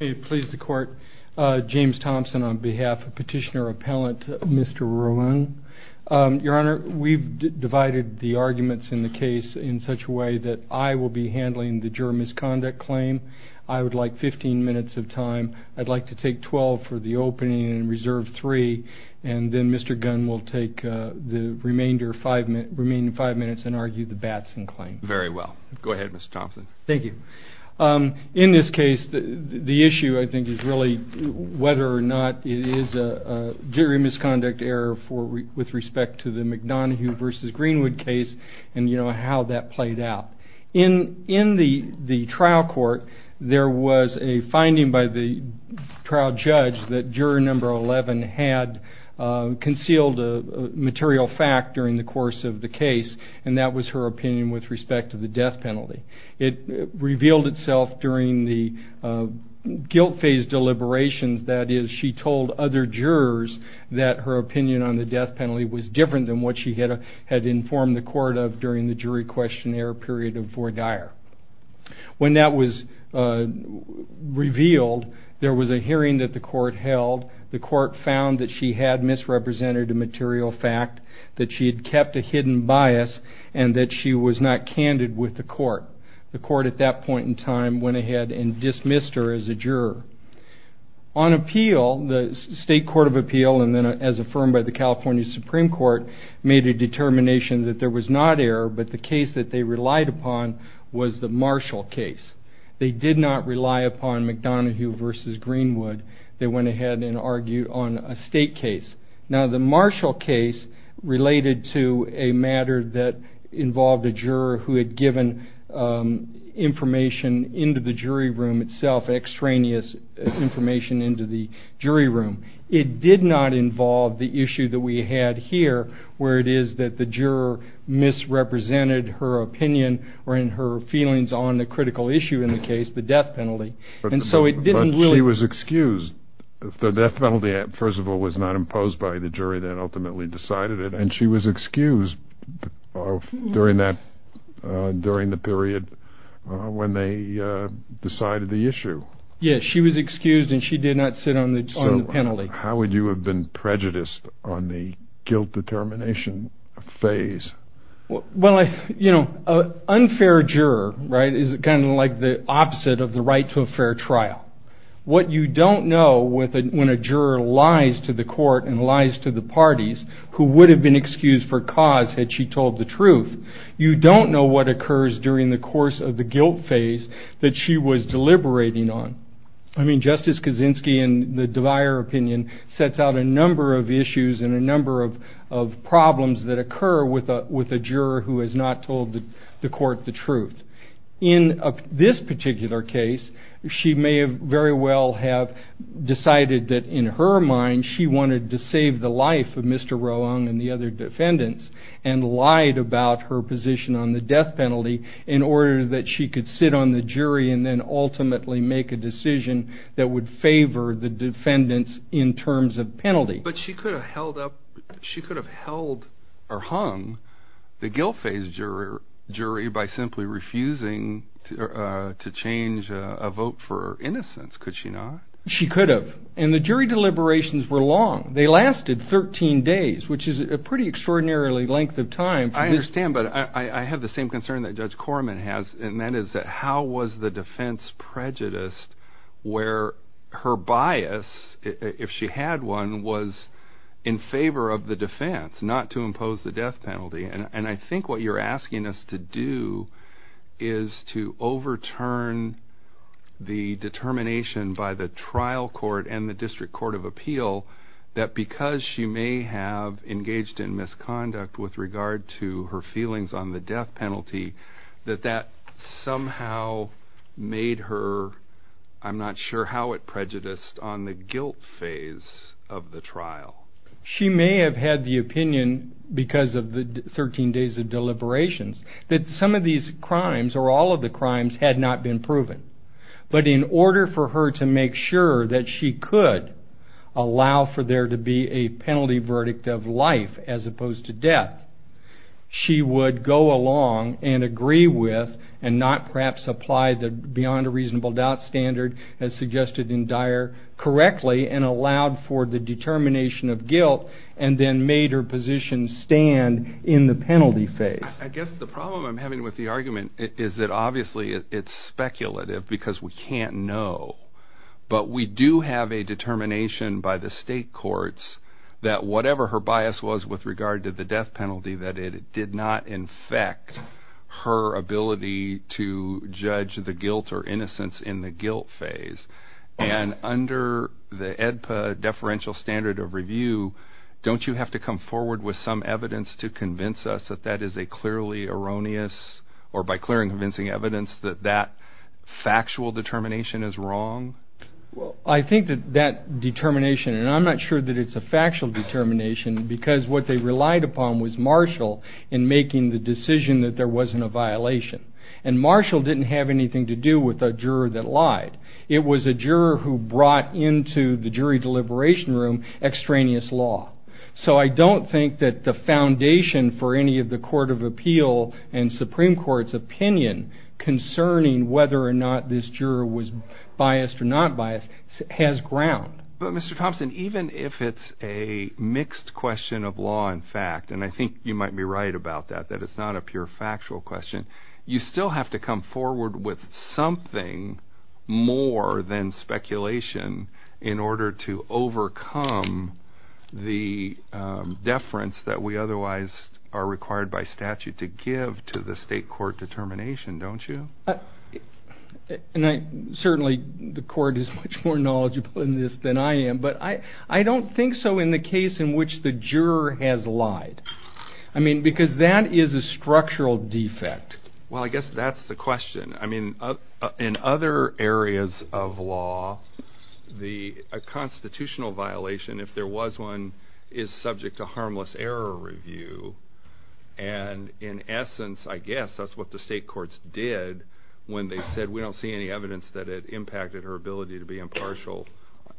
v. James Thomson v. Mr. Roehrig Mr. Roehrig, we have divided the arguments in the case in such a way that I will be handling the juror misconduct claim. I would like 15 minutes of time. I'd like to take 12 for the opening and reserve 3 and then Mr. Gunn will take the remaining 5 minutes and argue the rest of the case. In this case, the issue I think is really whether or not it is a jury misconduct error with respect to the McDonough v. Greenwood case and how that played out. In the trial court, there was a finding by the trial judge that juror number 11 had concealed a material fact during the course of the case and that was found to be true. When that was revealed, there was a hearing that the court held. The court found that she had misrepresented a material fact, that she had kept a hidden bias, and that she had misrepresented a material fact. The court at that point in time went ahead and dismissed her as a juror. On appeal, the State Court of Appeal, and then as affirmed by the California Supreme Court, made a determination that there was not error, but the case that they relied upon was the Marshall case. They did not rely upon McDonough v. Greenwood. They went ahead and argued on a State case. Now, the Marshall case related to a matter that involved a juror who had given information into the jury room itself, extraneous information into the jury room. It did not involve the issue that we had here where it is that the juror misrepresented her opinion or her feelings on the critical issue in the case, the death penalty. She was excused. The death penalty, first of all, was not imposed by the jury that ultimately decided it, and she was excused during the period when they decided the issue. Yes, she was excused and she did not sit on the penalty. How would you have been prejudiced on the guilt determination phase? Well, an unfair juror is kind of like the opposite of the right to a fair trial. What you don't know when a juror lies to the court and lies to the parties, who would have been excused for cause had she told the truth, you don't know what occurs during the course of the guilt phase that she was deliberating on. I mean, Justice Kaczynski in the DeVire opinion sets out a number of issues and a number of problems that occur with a juror who has not told the court the truth. In this particular case, she may very well have decided that in her mind she wanted to save the life of Mr. Roeung and the other defendants and lied about her position on the death penalty in order that she could sit on the jury and then ultimately make a decision. That would favor the defendants in terms of penalty. But she could have hung the guilt phase jury by simply refusing to change a vote for innocence, could she not? She could have. And the jury deliberations were long. They lasted 13 days, which is a pretty extraordinary length of time. I understand, but I have the same concern that Judge Korman has, and that is that how was the defense prejudiced where her bias, if she had one, was in favor of the defense, not to impose the death penalty. And I think what you're asking us to do is to overturn the determination by the trial court and the district court of appeal that because she may have engaged in misconduct with regard to the death penalty, she may not be able to impose the death penalty. And I'm not sure how she was able to do that. I'm not sure how she was able to do that. She may have had the opinion because of the 13 days of deliberations that some of these crimes, or all of the crimes, had not been proven. But in order for her to make sure that she could allow for there to be a penalty verdict of life as opposed to death, she would go along and agree with and not perhaps apply the beyond a reasonable doubt standard as suggested in Dyer correctly and allowed for the determination of guilt and then made her position stand in the penalty phase. I guess the problem I'm having with the argument is that obviously it's speculative because we can't know. But we do have a determination by the state courts that whatever her bias was with regard to the death penalty, that it did not infect her ability to judge the guilt or innocence in the guilt phase. And under the EDPA deferential standard of review, don't you have to come forward with some evidence to convince us that that is a clear evidence? Or by clear and convincing evidence that that factual determination is wrong? I think that that determination, and I'm not sure that it's a factual determination because what they relied upon was Marshall in making the decision that there wasn't a violation. And Marshall didn't have anything to do with a juror that lied. It was a juror who brought into the jury deliberation room extraneous law. So I don't think that the foundation for any of the Court of Appeal and Supreme Court's opinion concerning whether or not this juror was biased or not biased has ground. But Mr. Thompson, even if it's a mixed question of law and fact, and I think you might be right about that, that it's not a pure factual question, you still have to come forward with something more than speculation in order to overcome the question of whether or not this juror was biased or not biased. And that's the deference that we otherwise are required by statute to give to the state court determination, don't you? And certainly the court is much more knowledgeable in this than I am, but I don't think so in the case in which the juror has lied. I mean, because that is a structural defect. Well, I guess that's the question. I mean, in other areas of law, a constitutional violation, if there was one, is subject to harmless error review. And in essence, I guess that's what the state courts did when they said, we don't see any evidence that it impacted her ability to be impartial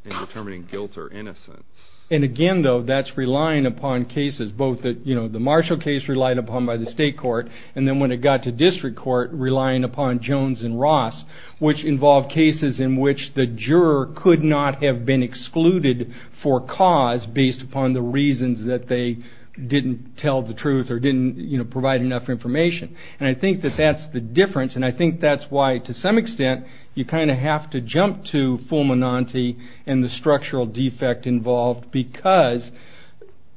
in determining guilt or innocence. And again, though, that's relying upon cases, both the Marshall case relied upon by the state court, and then when it got to district court, relying upon Jones and Ross, which involved cases in which the juror could not have been excluded for cause based upon the reasons that they didn't tell the truth or didn't provide enough information. And I think that that's the difference, and I think that's why, to some extent, you kind of have to jump to Fulminante and the structural defect involved, because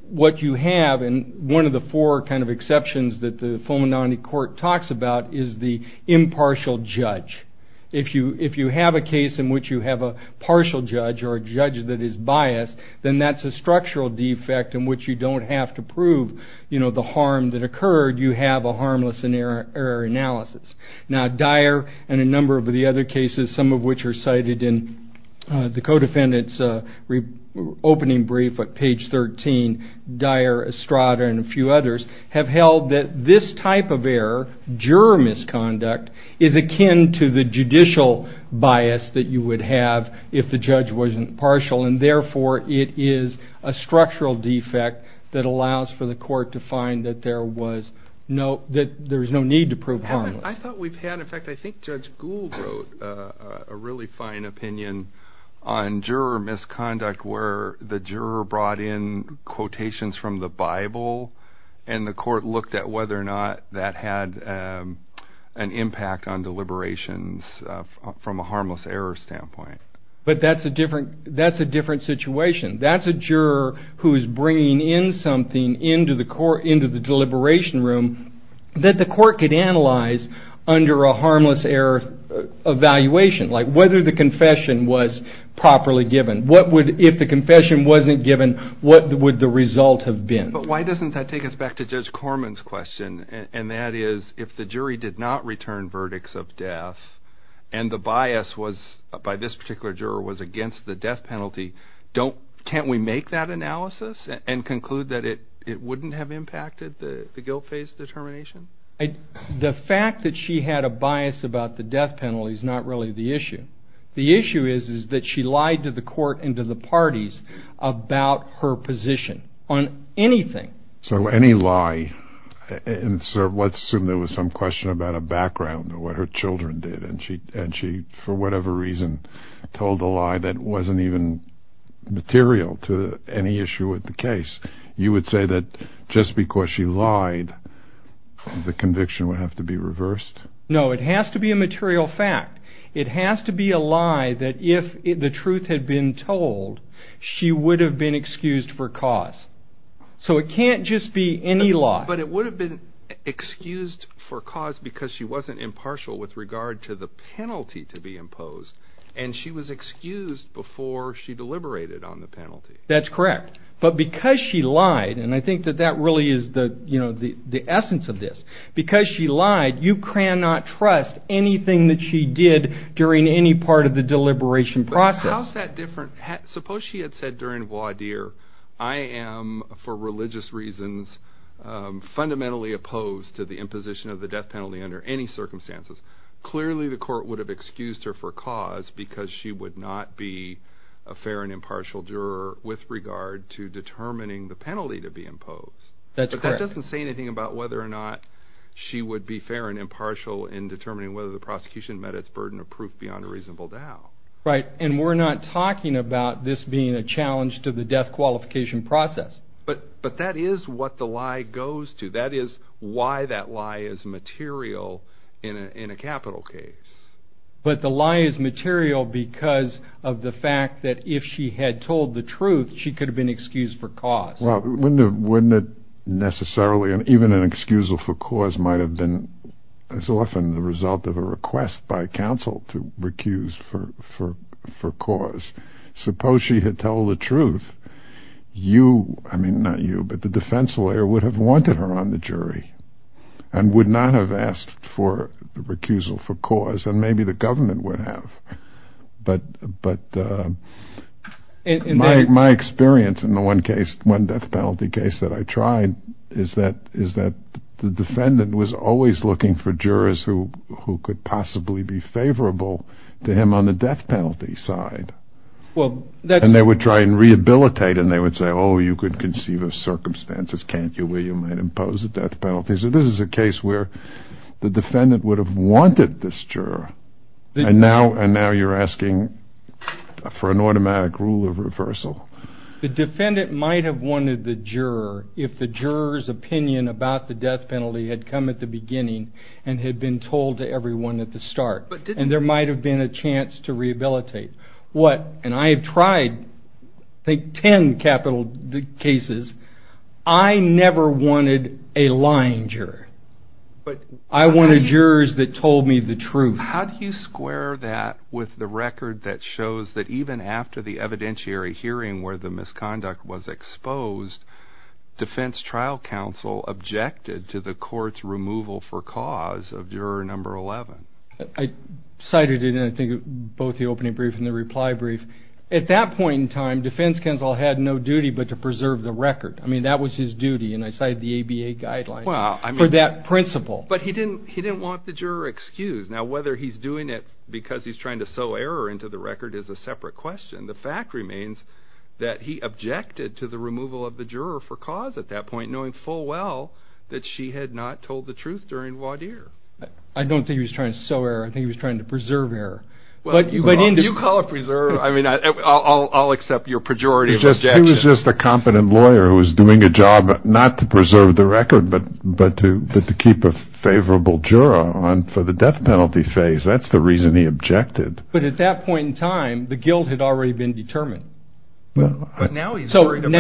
what you have, and one of the four kind of exceptions that the Fulminante court talks about is the impartial judge. If you have a case in which you have a partial judge or a judge that is biased, then that's a structural defect in which you don't have to prove the harm that occurred. You have a harmless error analysis. Now, Dyer and a number of the other cases, some of which are cited in the co-defendant's opening brief at page 13, Dyer, Estrada, and a few others, have held that this type of error, juror misconduct, is akin to the judicial bias that you would have if the judge wasn't partial, and therefore it is a structural defect that allows for the court to find that there's no need to prove harmless. I thought we've had, in fact, I think Judge Gould wrote a really fine opinion on juror misconduct where the juror brought in quotations from the Bible, and the court looked at whether or not that had an impact on deliberations from a harmless error standpoint. But that's a different situation. That's a juror who's bringing in something into the deliberation room that the court could analyze under a harmless error evaluation, like whether the confession was properly given. If the confession wasn't given, what would the result have been? But why doesn't that take us back to Judge Corman's question, and that is, if the jury did not return verdicts of death, and the bias by this particular juror was against the death penalty, can't we make that analysis and conclude that it wouldn't have impacted the guilt phase determination? The fact that she had a bias about the death penalty is not really the issue. The issue is that she lied to the court and to the parties about her position on anything. So any lie, and let's assume there was some question about a background or what her children did, and she, for whatever reason, told a lie that wasn't even material to any issue with the case, you would say that just because she lied, the conviction would have to be reversed? No, it has to be a material fact. It has to be a lie that if the truth had been told, she would have been excused for cause. So it can't just be any lie. But it would have been excused for cause because she wasn't impartial with regard to the penalty to be imposed, and she was excused before she deliberated on the penalty. That's correct. But because she lied, and I think that that really is the essence of this, because she lied, you cannot trust anything that she did during any part of the deliberation process. But how is that different? Suppose she had said during voir dire, I am, for religious reasons, fundamentally opposed to the imposition of the death penalty under any circumstances. Clearly the court would have excused her for cause because she would not be a fair and impartial juror That's correct. But that doesn't say anything about whether or not she would be fair and impartial in determining whether the prosecution met its burden of proof beyond a reasonable doubt. Right, and we're not talking about this being a challenge to the death qualification process. But that is what the lie goes to. That is why that lie is material in a capital case. But the lie is material because of the fact that if she had told the truth, she could have been excused for cause. Even an excusal for cause might have been as often the result of a request by counsel to recuse for cause. Suppose she had told the truth, you, I mean not you, but the defense lawyer would have wanted her on the jury and would not have asked for the recusal for cause, and maybe the government would have. But my experience in the one death penalty case that I tried is that the defendant was always looking for jurors who could possibly be favorable to him on the death penalty side. And they would try and rehabilitate and they would say, oh, you could conceive of circumstances, can't you, where you might impose a death penalty. So this is a case where the defendant would have wanted this juror. And now you're asking for an automatic rule of reversal. The defendant might have wanted the juror if the juror's opinion about the death penalty had come at the beginning and had been told to everyone at the start. And there might have been a chance to rehabilitate. And I have tried I think 10 capital cases. I never wanted a lying juror. I wanted jurors that told me the truth. How do you square that with the record that shows that even after the evidentiary hearing where the misconduct was exposed, defense trial counsel objected to the court's removal for cause of juror number 11? I cited it in I think both the opening brief and the reply brief. At that point in time, defense counsel had no duty but to preserve the record. I mean that was his duty and I cited the ABA guidelines for that principle. But he didn't want the juror excused. Now whether he's doing it because he's trying to sew error into the record is a separate question. And the fact remains that he objected to the removal of the juror for cause at that point, knowing full well that she had not told the truth during voir dire. I don't think he was trying to sew error. I think he was trying to preserve error. You call it preserve. I'll accept your pejorative objection. He was just a competent lawyer who was doing a job not to preserve the record, but to keep a favorable juror on for the death penalty phase. That's the reason he objected. But at that point in time, the guilt had already been determined. But the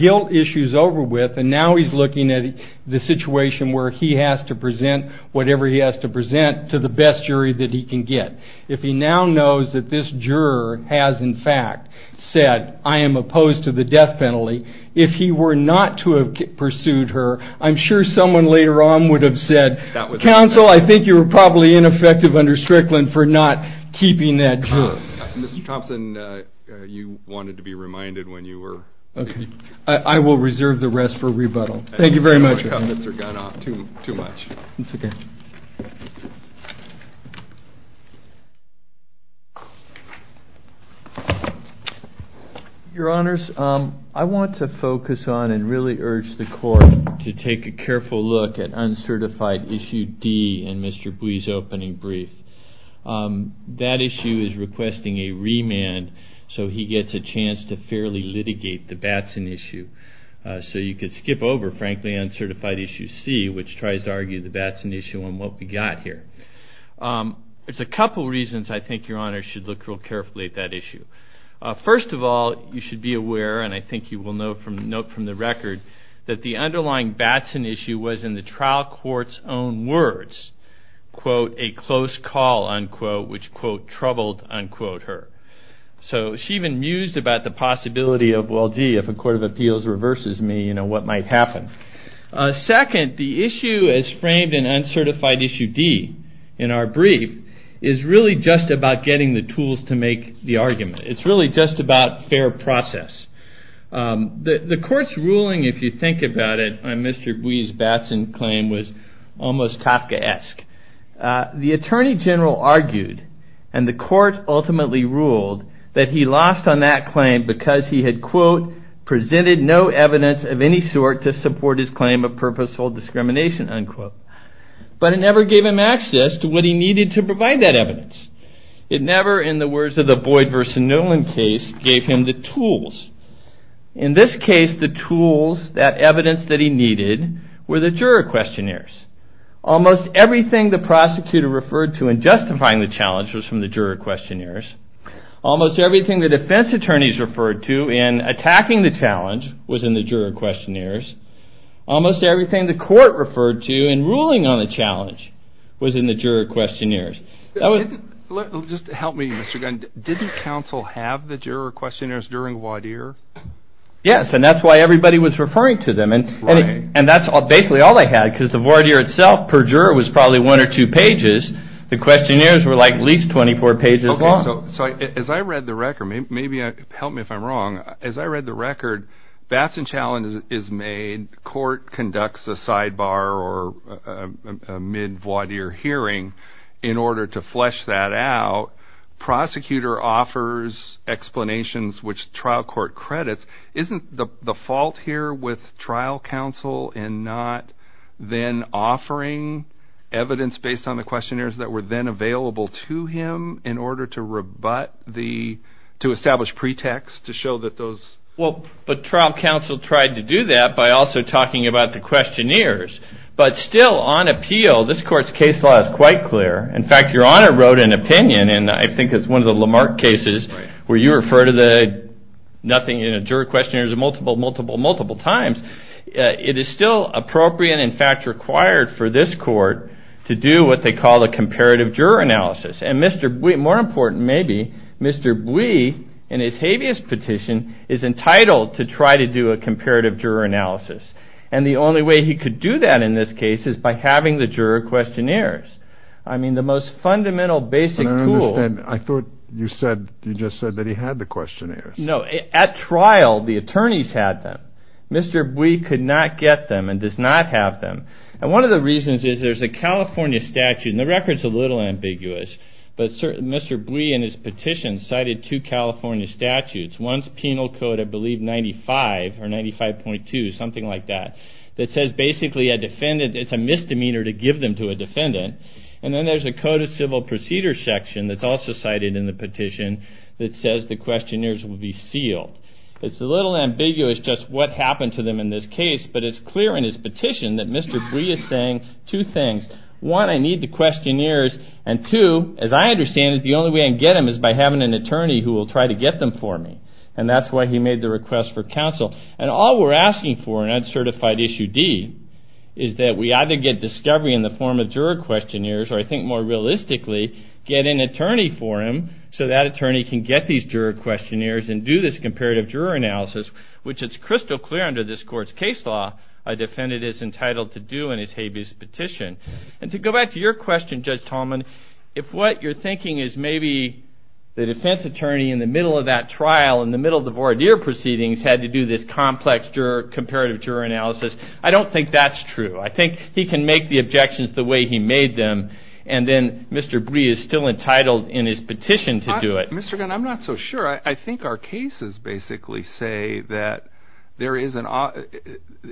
guilt issue is over with and now he's looking at the situation where he has to present whatever he has to present to the best jury that he can get. If he now knows that this juror has in fact said, I am opposed to the death penalty, if he were not to have pursued her, I'm sure someone later on would have said, Counsel, I think you were probably ineffective under Strickland for not keeping that juror. Mr. Thompson, you wanted to be reminded when you were speaking. I will reserve the rest for rebuttal. Thank you very much. Your Honors, I want to focus on and really urge the court to take a careful look at uncertified issue D in Mr. Bouie's opening brief. That issue is requesting a remand so he gets a chance to fairly litigate the Batson issue. So you could skip over, frankly, uncertified issue C, which tries to argue the Batson issue on what we got here. There's a couple reasons I think Your Honors should look real carefully at that issue. First of all, you should be aware, and I think you will note from the record, that the underlying Batson issue was in the trial court's own words, quote, a close call, unquote, which, quote, troubled, unquote, her. So she even mused about the possibility of, well, gee, if a court of appeals reverses me, what might happen? Second, the issue as framed in uncertified issue D in our brief is really just about getting the tools to make the argument. It's really just about fair process. The court's ruling, if you think about it, on Mr. Bouie's Batson claim, was almost Kafkaesque. The attorney general argued, and the court ultimately ruled, that he lost on that claim because he had, quote, presented no evidence of any sort to support his claim of purposeful discrimination, unquote. But it never gave him access to what he needed to provide that evidence. It never, in the words of the Boyd v. Nolan case, gave him the tools. In this case, the tools, that evidence that he needed, were the juror questionnaires. Almost everything the prosecutor referred to in justifying the challenge was from the juror questionnaires. Almost everything the defense attorneys referred to in attacking the challenge was in the juror questionnaires. Almost everything the court referred to in ruling on the challenge was in the juror questionnaires. Didn't counsel have the juror questionnaires during voir dire? Yes, and that's why everybody was referring to them. And that's basically all they had, because the voir dire itself, per juror, was probably one or two pages. The questionnaires were at least 24 pages long. So as I read the record, maybe help me if I'm wrong, as I read the record, Batson Challenge is made, court conducts a sidebar or a mid-voir dire hearing in order to flesh that out. Batson Challenge is made, court conducts a sidebar or a mid-voir dire hearing in order to flesh that out. Prosecutor offers explanations which trial court credits. Isn't the fault here with trial counsel in not then offering evidence based on the questionnaires that were then available to him in order to rebut the, to establish pretext to show that those... that were then available to him in order to rebut the, to establish pretext to show that those... Well, but trial counsel tried to do that by also talking about the questionnaires. But still, on appeal, this court's case law is quite clear. In fact, Your Honor wrote an opinion, and I think it's one of the Lamarck cases where you refer to the nothing in a juror questionnaires multiple, multiple, multiple times. It is still appropriate, in fact, required for this court to do what they call a comparative juror analysis. And Mr. Bui, more important maybe, Mr. Bui, in his habeas petition, is entitled to try to do a comparative juror analysis. And the only way he could do that in this case is by having the juror questionnaires. I mean, the most fundamental, basic tool... Mr. Bui could not get them and does not have them. And one of the reasons is there's a California statute, and the record's a little ambiguous, but Mr. Bui, in his petition, cited two California statutes. One's Penal Code, I believe 95, or 95.2, something like that, that says basically a defendant, it's a misdemeanor to give them to a defendant. And then there's a Code of Civil Procedure section that's also cited in the petition that says the questionnaires will be sealed. It's a little ambiguous just what happened to them in this case, but it's clear in his petition that Mr. Bui is saying two things. One, I need the questionnaires, and two, as I understand it, the only way I can get them is by having an attorney who will try to get them for me. And that's why he made the request for counsel. And all we're asking for in Uncertified Issue D is that we either get discovery in the form of juror questionnaires, or I think more realistically, get an attorney for him so that attorney can get these juror questionnaires and do this comparative juror analysis, which it's crystal clear under this court's case law a defendant is entitled to do in his habeas petition. And to go back to your question, Judge Tallman, if what you're thinking is maybe the defense attorney in the middle of that trial, in the middle of the juror analysis, I don't think that's true. I think he can make the objections the way he made them, and then Mr. Bui is still entitled in his petition to do it. Mr. Gunn, I'm not so sure. I think our cases basically say that there is an...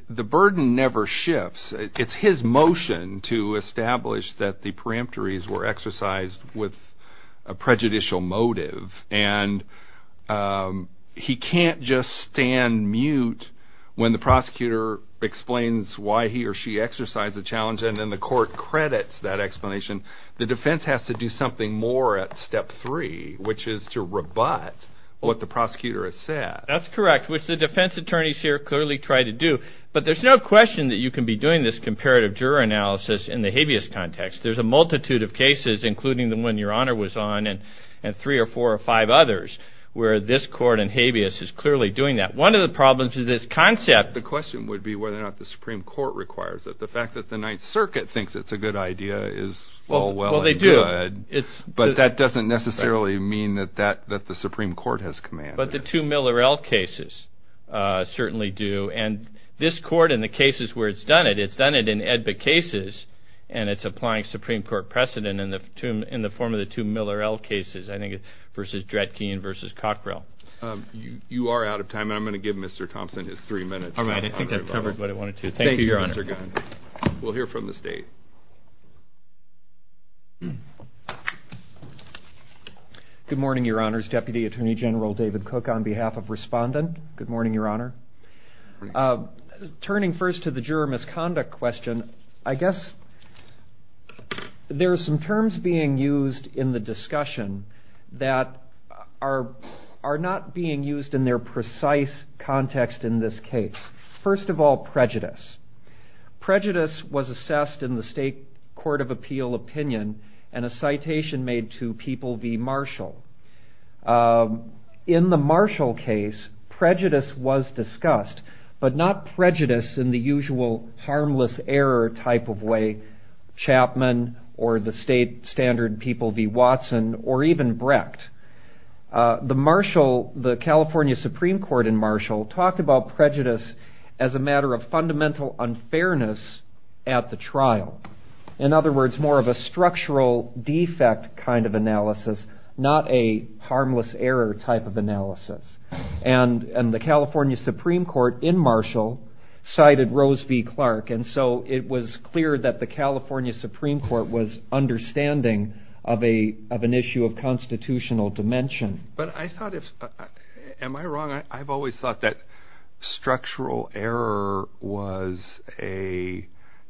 the burden never shifts. It's his motion to establish that the peremptories were exercised with a prejudicial motive. And he can't just stand mute when the prosecutor explains why he or she exercised the challenge, and then the court credits that explanation. The defense has to do something more at step three, which is to rebut what the prosecutor has said. That's correct, which the defense attorneys here clearly try to do. But there's no question that you can be doing this comparative juror analysis in the habeas context. There's a multitude of cases, including the one Your Honor was on, and three or four or five others, where this court in habeas is clearly doing that. One of the problems with this concept... The question would be whether or not the Supreme Court requires it. The fact that the Ninth Circuit thinks it's a good idea is all well and good, but that doesn't necessarily mean that the Supreme Court has commanded it. But the two Miller L. cases certainly do, and this court in the cases where it's done it, it's done it in ADBA cases, and it's applying Supreme Court precedent in the form of the two Miller L. cases, I think, versus Dred Keane versus Cockrell. You are out of time, and I'm going to give Mr. Thompson his three minutes. All right, I think I've covered what I wanted to. Thank you, Your Honor. Thank you, Mr. Gunn. We'll hear from the State. Good morning, Your Honors. Deputy Attorney General David Cook on behalf of Respondent. Good morning, Your Honor. Turning first to the juror misconduct question, I guess there's some terms being used in the discussion that are not being used in their precise context in this case. First of all, prejudice. Prejudice was assessed in the State Court of Justice. In the Marshall case, prejudice was discussed, but not prejudice in the usual harmless error type of way, Chapman or the State standard people v. Watson or even Brecht. The Marshall, the California Supreme Court in Marshall talked about prejudice as a matter of fundamental unfairness at the trial. In other words, more of a harmless error type of analysis. The California Supreme Court in Marshall cited Rose v. Clark, and so it was clear that the California Supreme Court was understanding of an issue of constitutional dimension. Am I wrong? I've always thought that structural error was a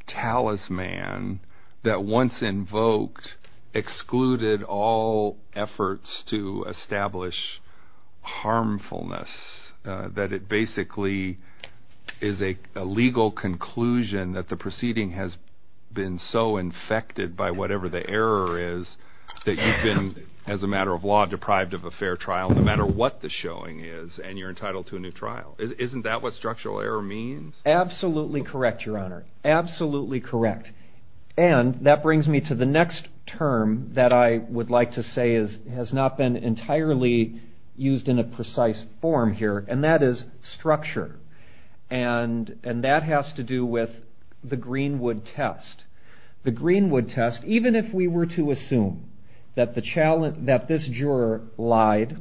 talisman that once established harmfulness, that it basically is a legal conclusion that the proceeding has been so infected by whatever the error is that you've been, as a matter of law, deprived of a fair trial no matter what the showing is, and you're entitled to a new trial. Isn't that what structural error means? Absolutely correct, Your Honor. Absolutely correct. And that brings me to the next point that's really used in a precise form here, and that is structure. And that has to do with the Greenwood test. The Greenwood test, even if we were to assume that this juror lied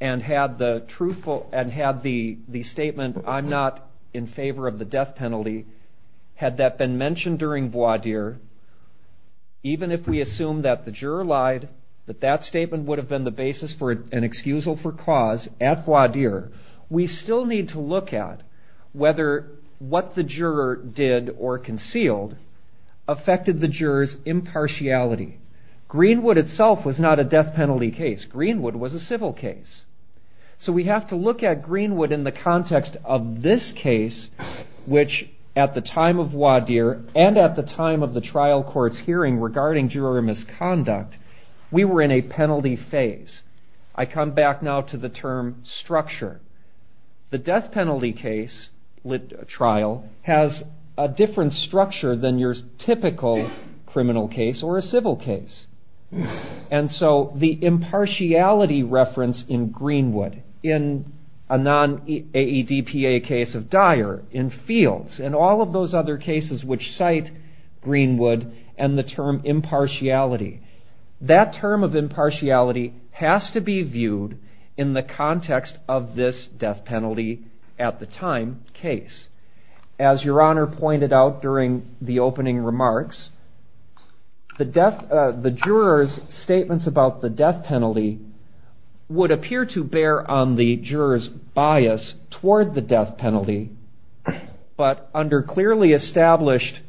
and had the statement, I'm not in favor of the death penalty, had that been mentioned during voir dire, even if we assumed that the juror lied, that that statement would have been the basis for an excusal for cause at voir dire, we still need to look at whether what the juror did or concealed affected the juror's impartiality. Greenwood itself was not a death penalty case. Greenwood was a civil case. So we have to look at Greenwood in the context of this case, which at the time of voir dire and at the time of the trial court's hearing regarding juror misconduct, we were in a penalty phase. I come back now to the term structure. The death penalty trial has a different structure than your typical criminal case or a civil case. And so the impartiality reference in Greenwood, in a non-AEDPA case of dire, in fields, in all of those other cases which cite Greenwood and the term impartiality, that term of impartiality has to be viewed in the context of this death penalty at the time case. As your honor pointed out during the opening remarks, the jurors bias toward the death penalty, but under clearly established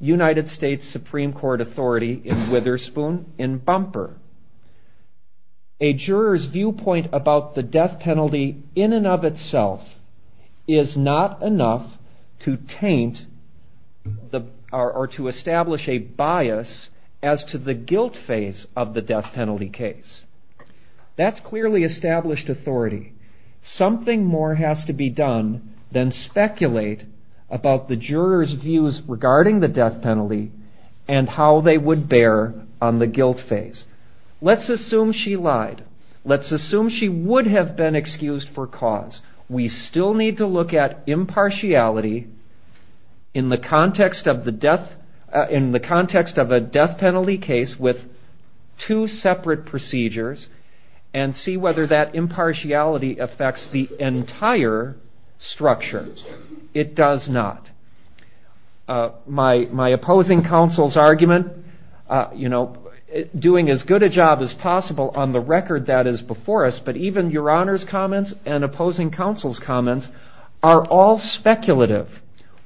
United States Supreme Court authority in Witherspoon and Bumper, a juror's viewpoint about the death penalty in and of itself is not enough to taint or to establish a bias as to the guilt phase of the death penalty case. That's clearly established authority. Something more has to be done than speculate about the jurors views regarding the death penalty and how they would bear on the guilt phase. Let's assume she lied. Let's assume she would have been excused for cause. We still need to look at impartiality in the two separate procedures and see whether that impartiality affects the entire structure. It does not. My opposing counsel's argument, doing as good a job as possible on the record that is before us, but even your honor's comments and opposing counsel's comments are all speculative.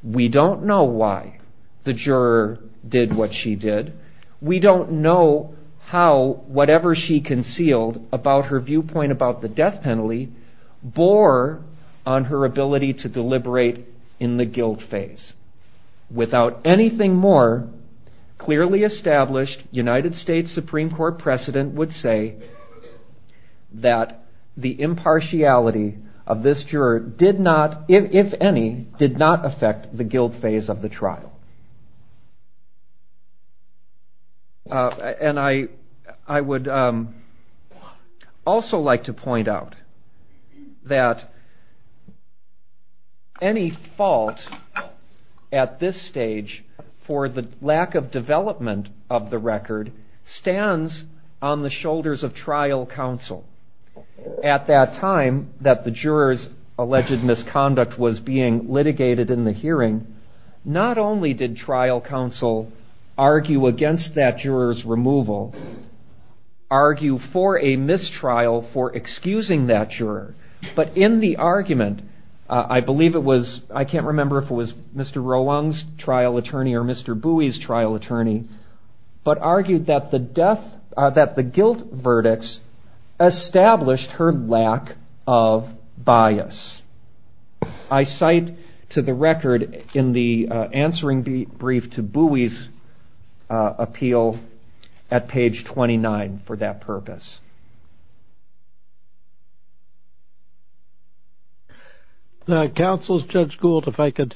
We don't know why the juror did what she did. We don't know how whatever she concealed about her viewpoint about the death penalty bore on her ability to deliberate in the guilt phase. Without anything more clearly established, United States Supreme Court precedent would say that the impartiality of this trial. I would also like to point out that any fault at this stage for the lack of development of the record stands on the shoulders of trial counsel. At that time that the jurors alleged misconduct was being litigated in the hearing, not only did trial counsel argue against that juror's removal, argue for a mistrial for excusing that juror, but in the argument, I believe it was, I can't remember if it was Mr. Rowong's trial attorney or Mr. Bui's trial attorney, but argued that the guilt verdicts established her lack of bias. I cite to the record in the answering brief to Bui's appeal at page 29 for that purpose. Counsel Judge Gould, if I could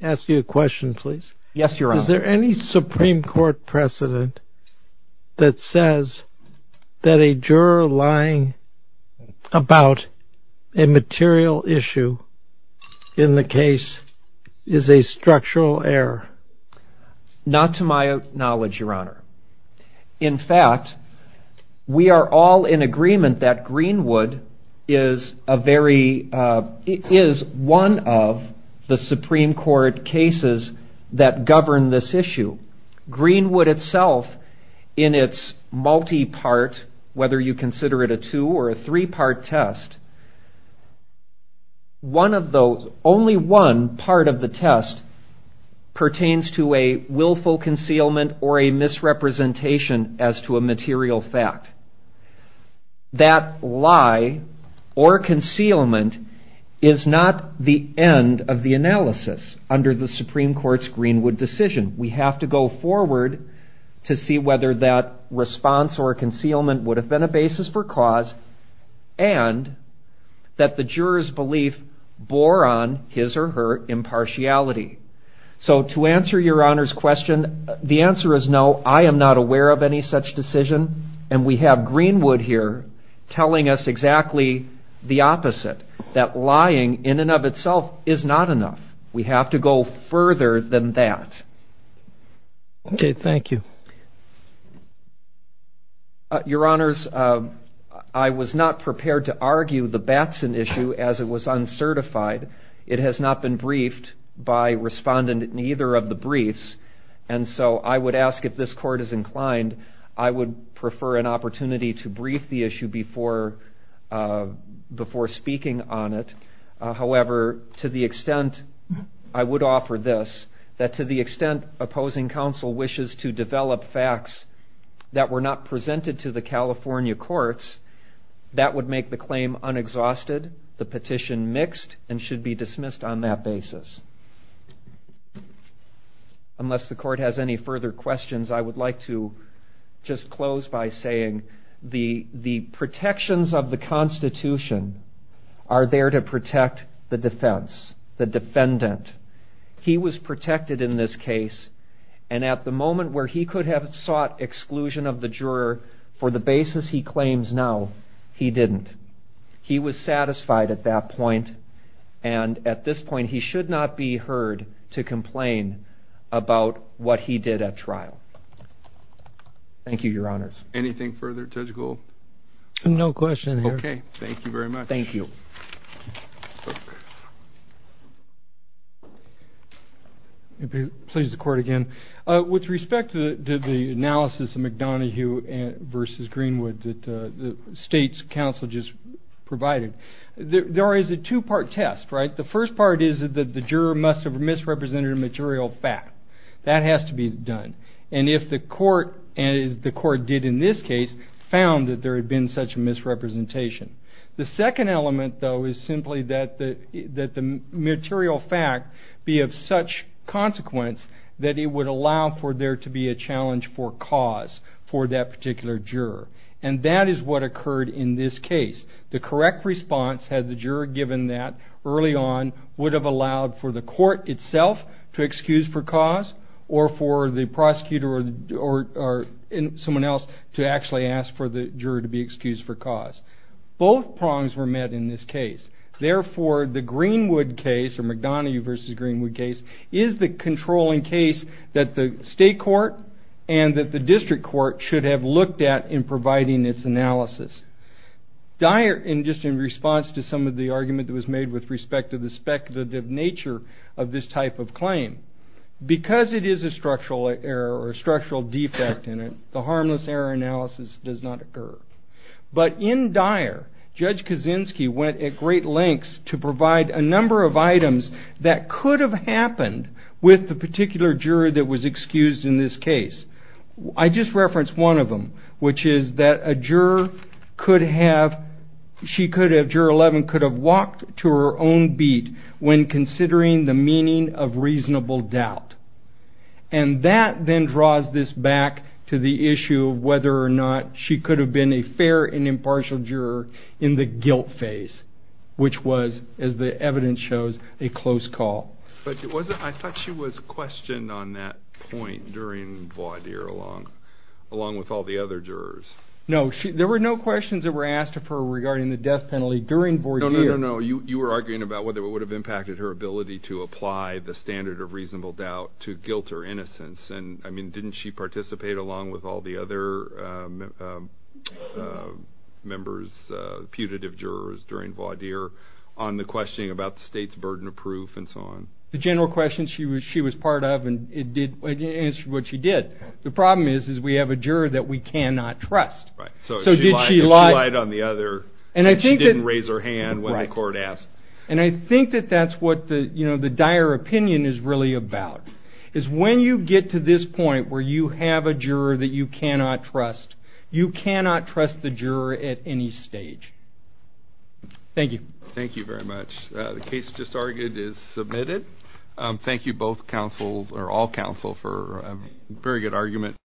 ask you a question, please. Yes, your honor. Is there any Supreme Court precedent that says that a juror lying about a material issue in the case is a structural error? Not to my knowledge, your honor. In fact, we are all in agreement that Greenwood is a very, is one of the Supreme Court's greenwood decision. We have to go forward to say that the Supreme Court's greenwood decision is not the end of the analysis. is not the end of the analysis. to see whether that response or concealment would have been a basis for cause and that the juror's belief bore on his or her impartiality. So to answer your honor's question, the answer is no, I am not aware of any such decision and we have greenwood here telling us exactly the opposite, that lying in and of itself is not enough. We have to go further than that. Okay, thank you. Your honors, I was not prepared to argue the Batson issue as it was uncertified. It has not been briefed by respondent in either of the briefs. And so I would ask if this court is inclined, I would prefer an opportunity to brief the issue before speaking on it. However, to the extent I would offer this, that to the extent opposing counsel wishes to develop facts that were not presented to the California courts, that would make the claim unexhausted, the petition mixed, and should be dismissed on that basis. Unless the court has any further questions, I would like to just close by saying the protections of the constitution are there to protect the defense, the defendant. He was protected in this case and at the moment where he could have sought exclusion of the juror for the basis he claims now, he didn't. He was satisfied at that point and at this point he should not be heard to complain about what he did at trial. Thank you, your honors. Anything further? No question. Thank you very much. With respect to the analysis of McDonough versus Greenwood that the state's counsel just provided, there is a two part test. The first part is that the juror must have misrepresented a material fact. That has to be done. And if the court, as the court did in this case, found that there had been such a misrepresentation. The second element, though, is simply that the material fact be of such consequence that it would allow for there to be a challenge for cause for that particular juror. And that is what occurred in this case. The correct response had the juror given that early on would have allowed for the court itself to excuse for cause or for the prosecutor or someone else to actually ask for the juror to be excused for cause. Both prongs were met in this case. Therefore, the Greenwood case, or McDonough versus Greenwood case, is the controlling case that the state court and that the district court should have looked at in providing its analysis. Dyer, just in response to some of the argument that was made with respect to the speculative nature of this type of claim, because it is a structural error or a structural defect in it, the harmless error analysis does not occur. But in Dyer, Judge Kaczynski went at great lengths to provide a number of items that could have happened with the particular juror that was excused in this case. I just referenced one of them, which is that a juror 11 could have walked to her own beat when considering the meaning of reasonable doubt. And that then draws this back to the issue of whether or not she could have been a fair and impartial juror in the guilt phase, which was, as the evidence shows, a close call. But I thought she was questioned on that point during Vaudier, along with all the other jurors. No. There were no questions that were asked of her regarding the death penalty during Vaudier. No, no, no, no. You were arguing about whether it would have impacted her ability to apply the standard of reasonable doubt to guilt or innocence. And, I mean, didn't she participate, along with all the other members, putative jurors, during Vaudier, on the questioning about the state's burden of proof and so on? The general question she was part of, and it did answer what she did. The problem is, is we have a juror that we cannot trust. Right. So did she lie? She lied on the other, and she didn't raise her hand when the court asked. Right. And I think that that's what the dire opinion is really about, is when you get to this point where you have a juror that you cannot trust, you cannot trust the juror at any stage. Thank you. Thank you very much. The case just argued is submitted. Thank you both counsels, or all counsel, for a very good argument.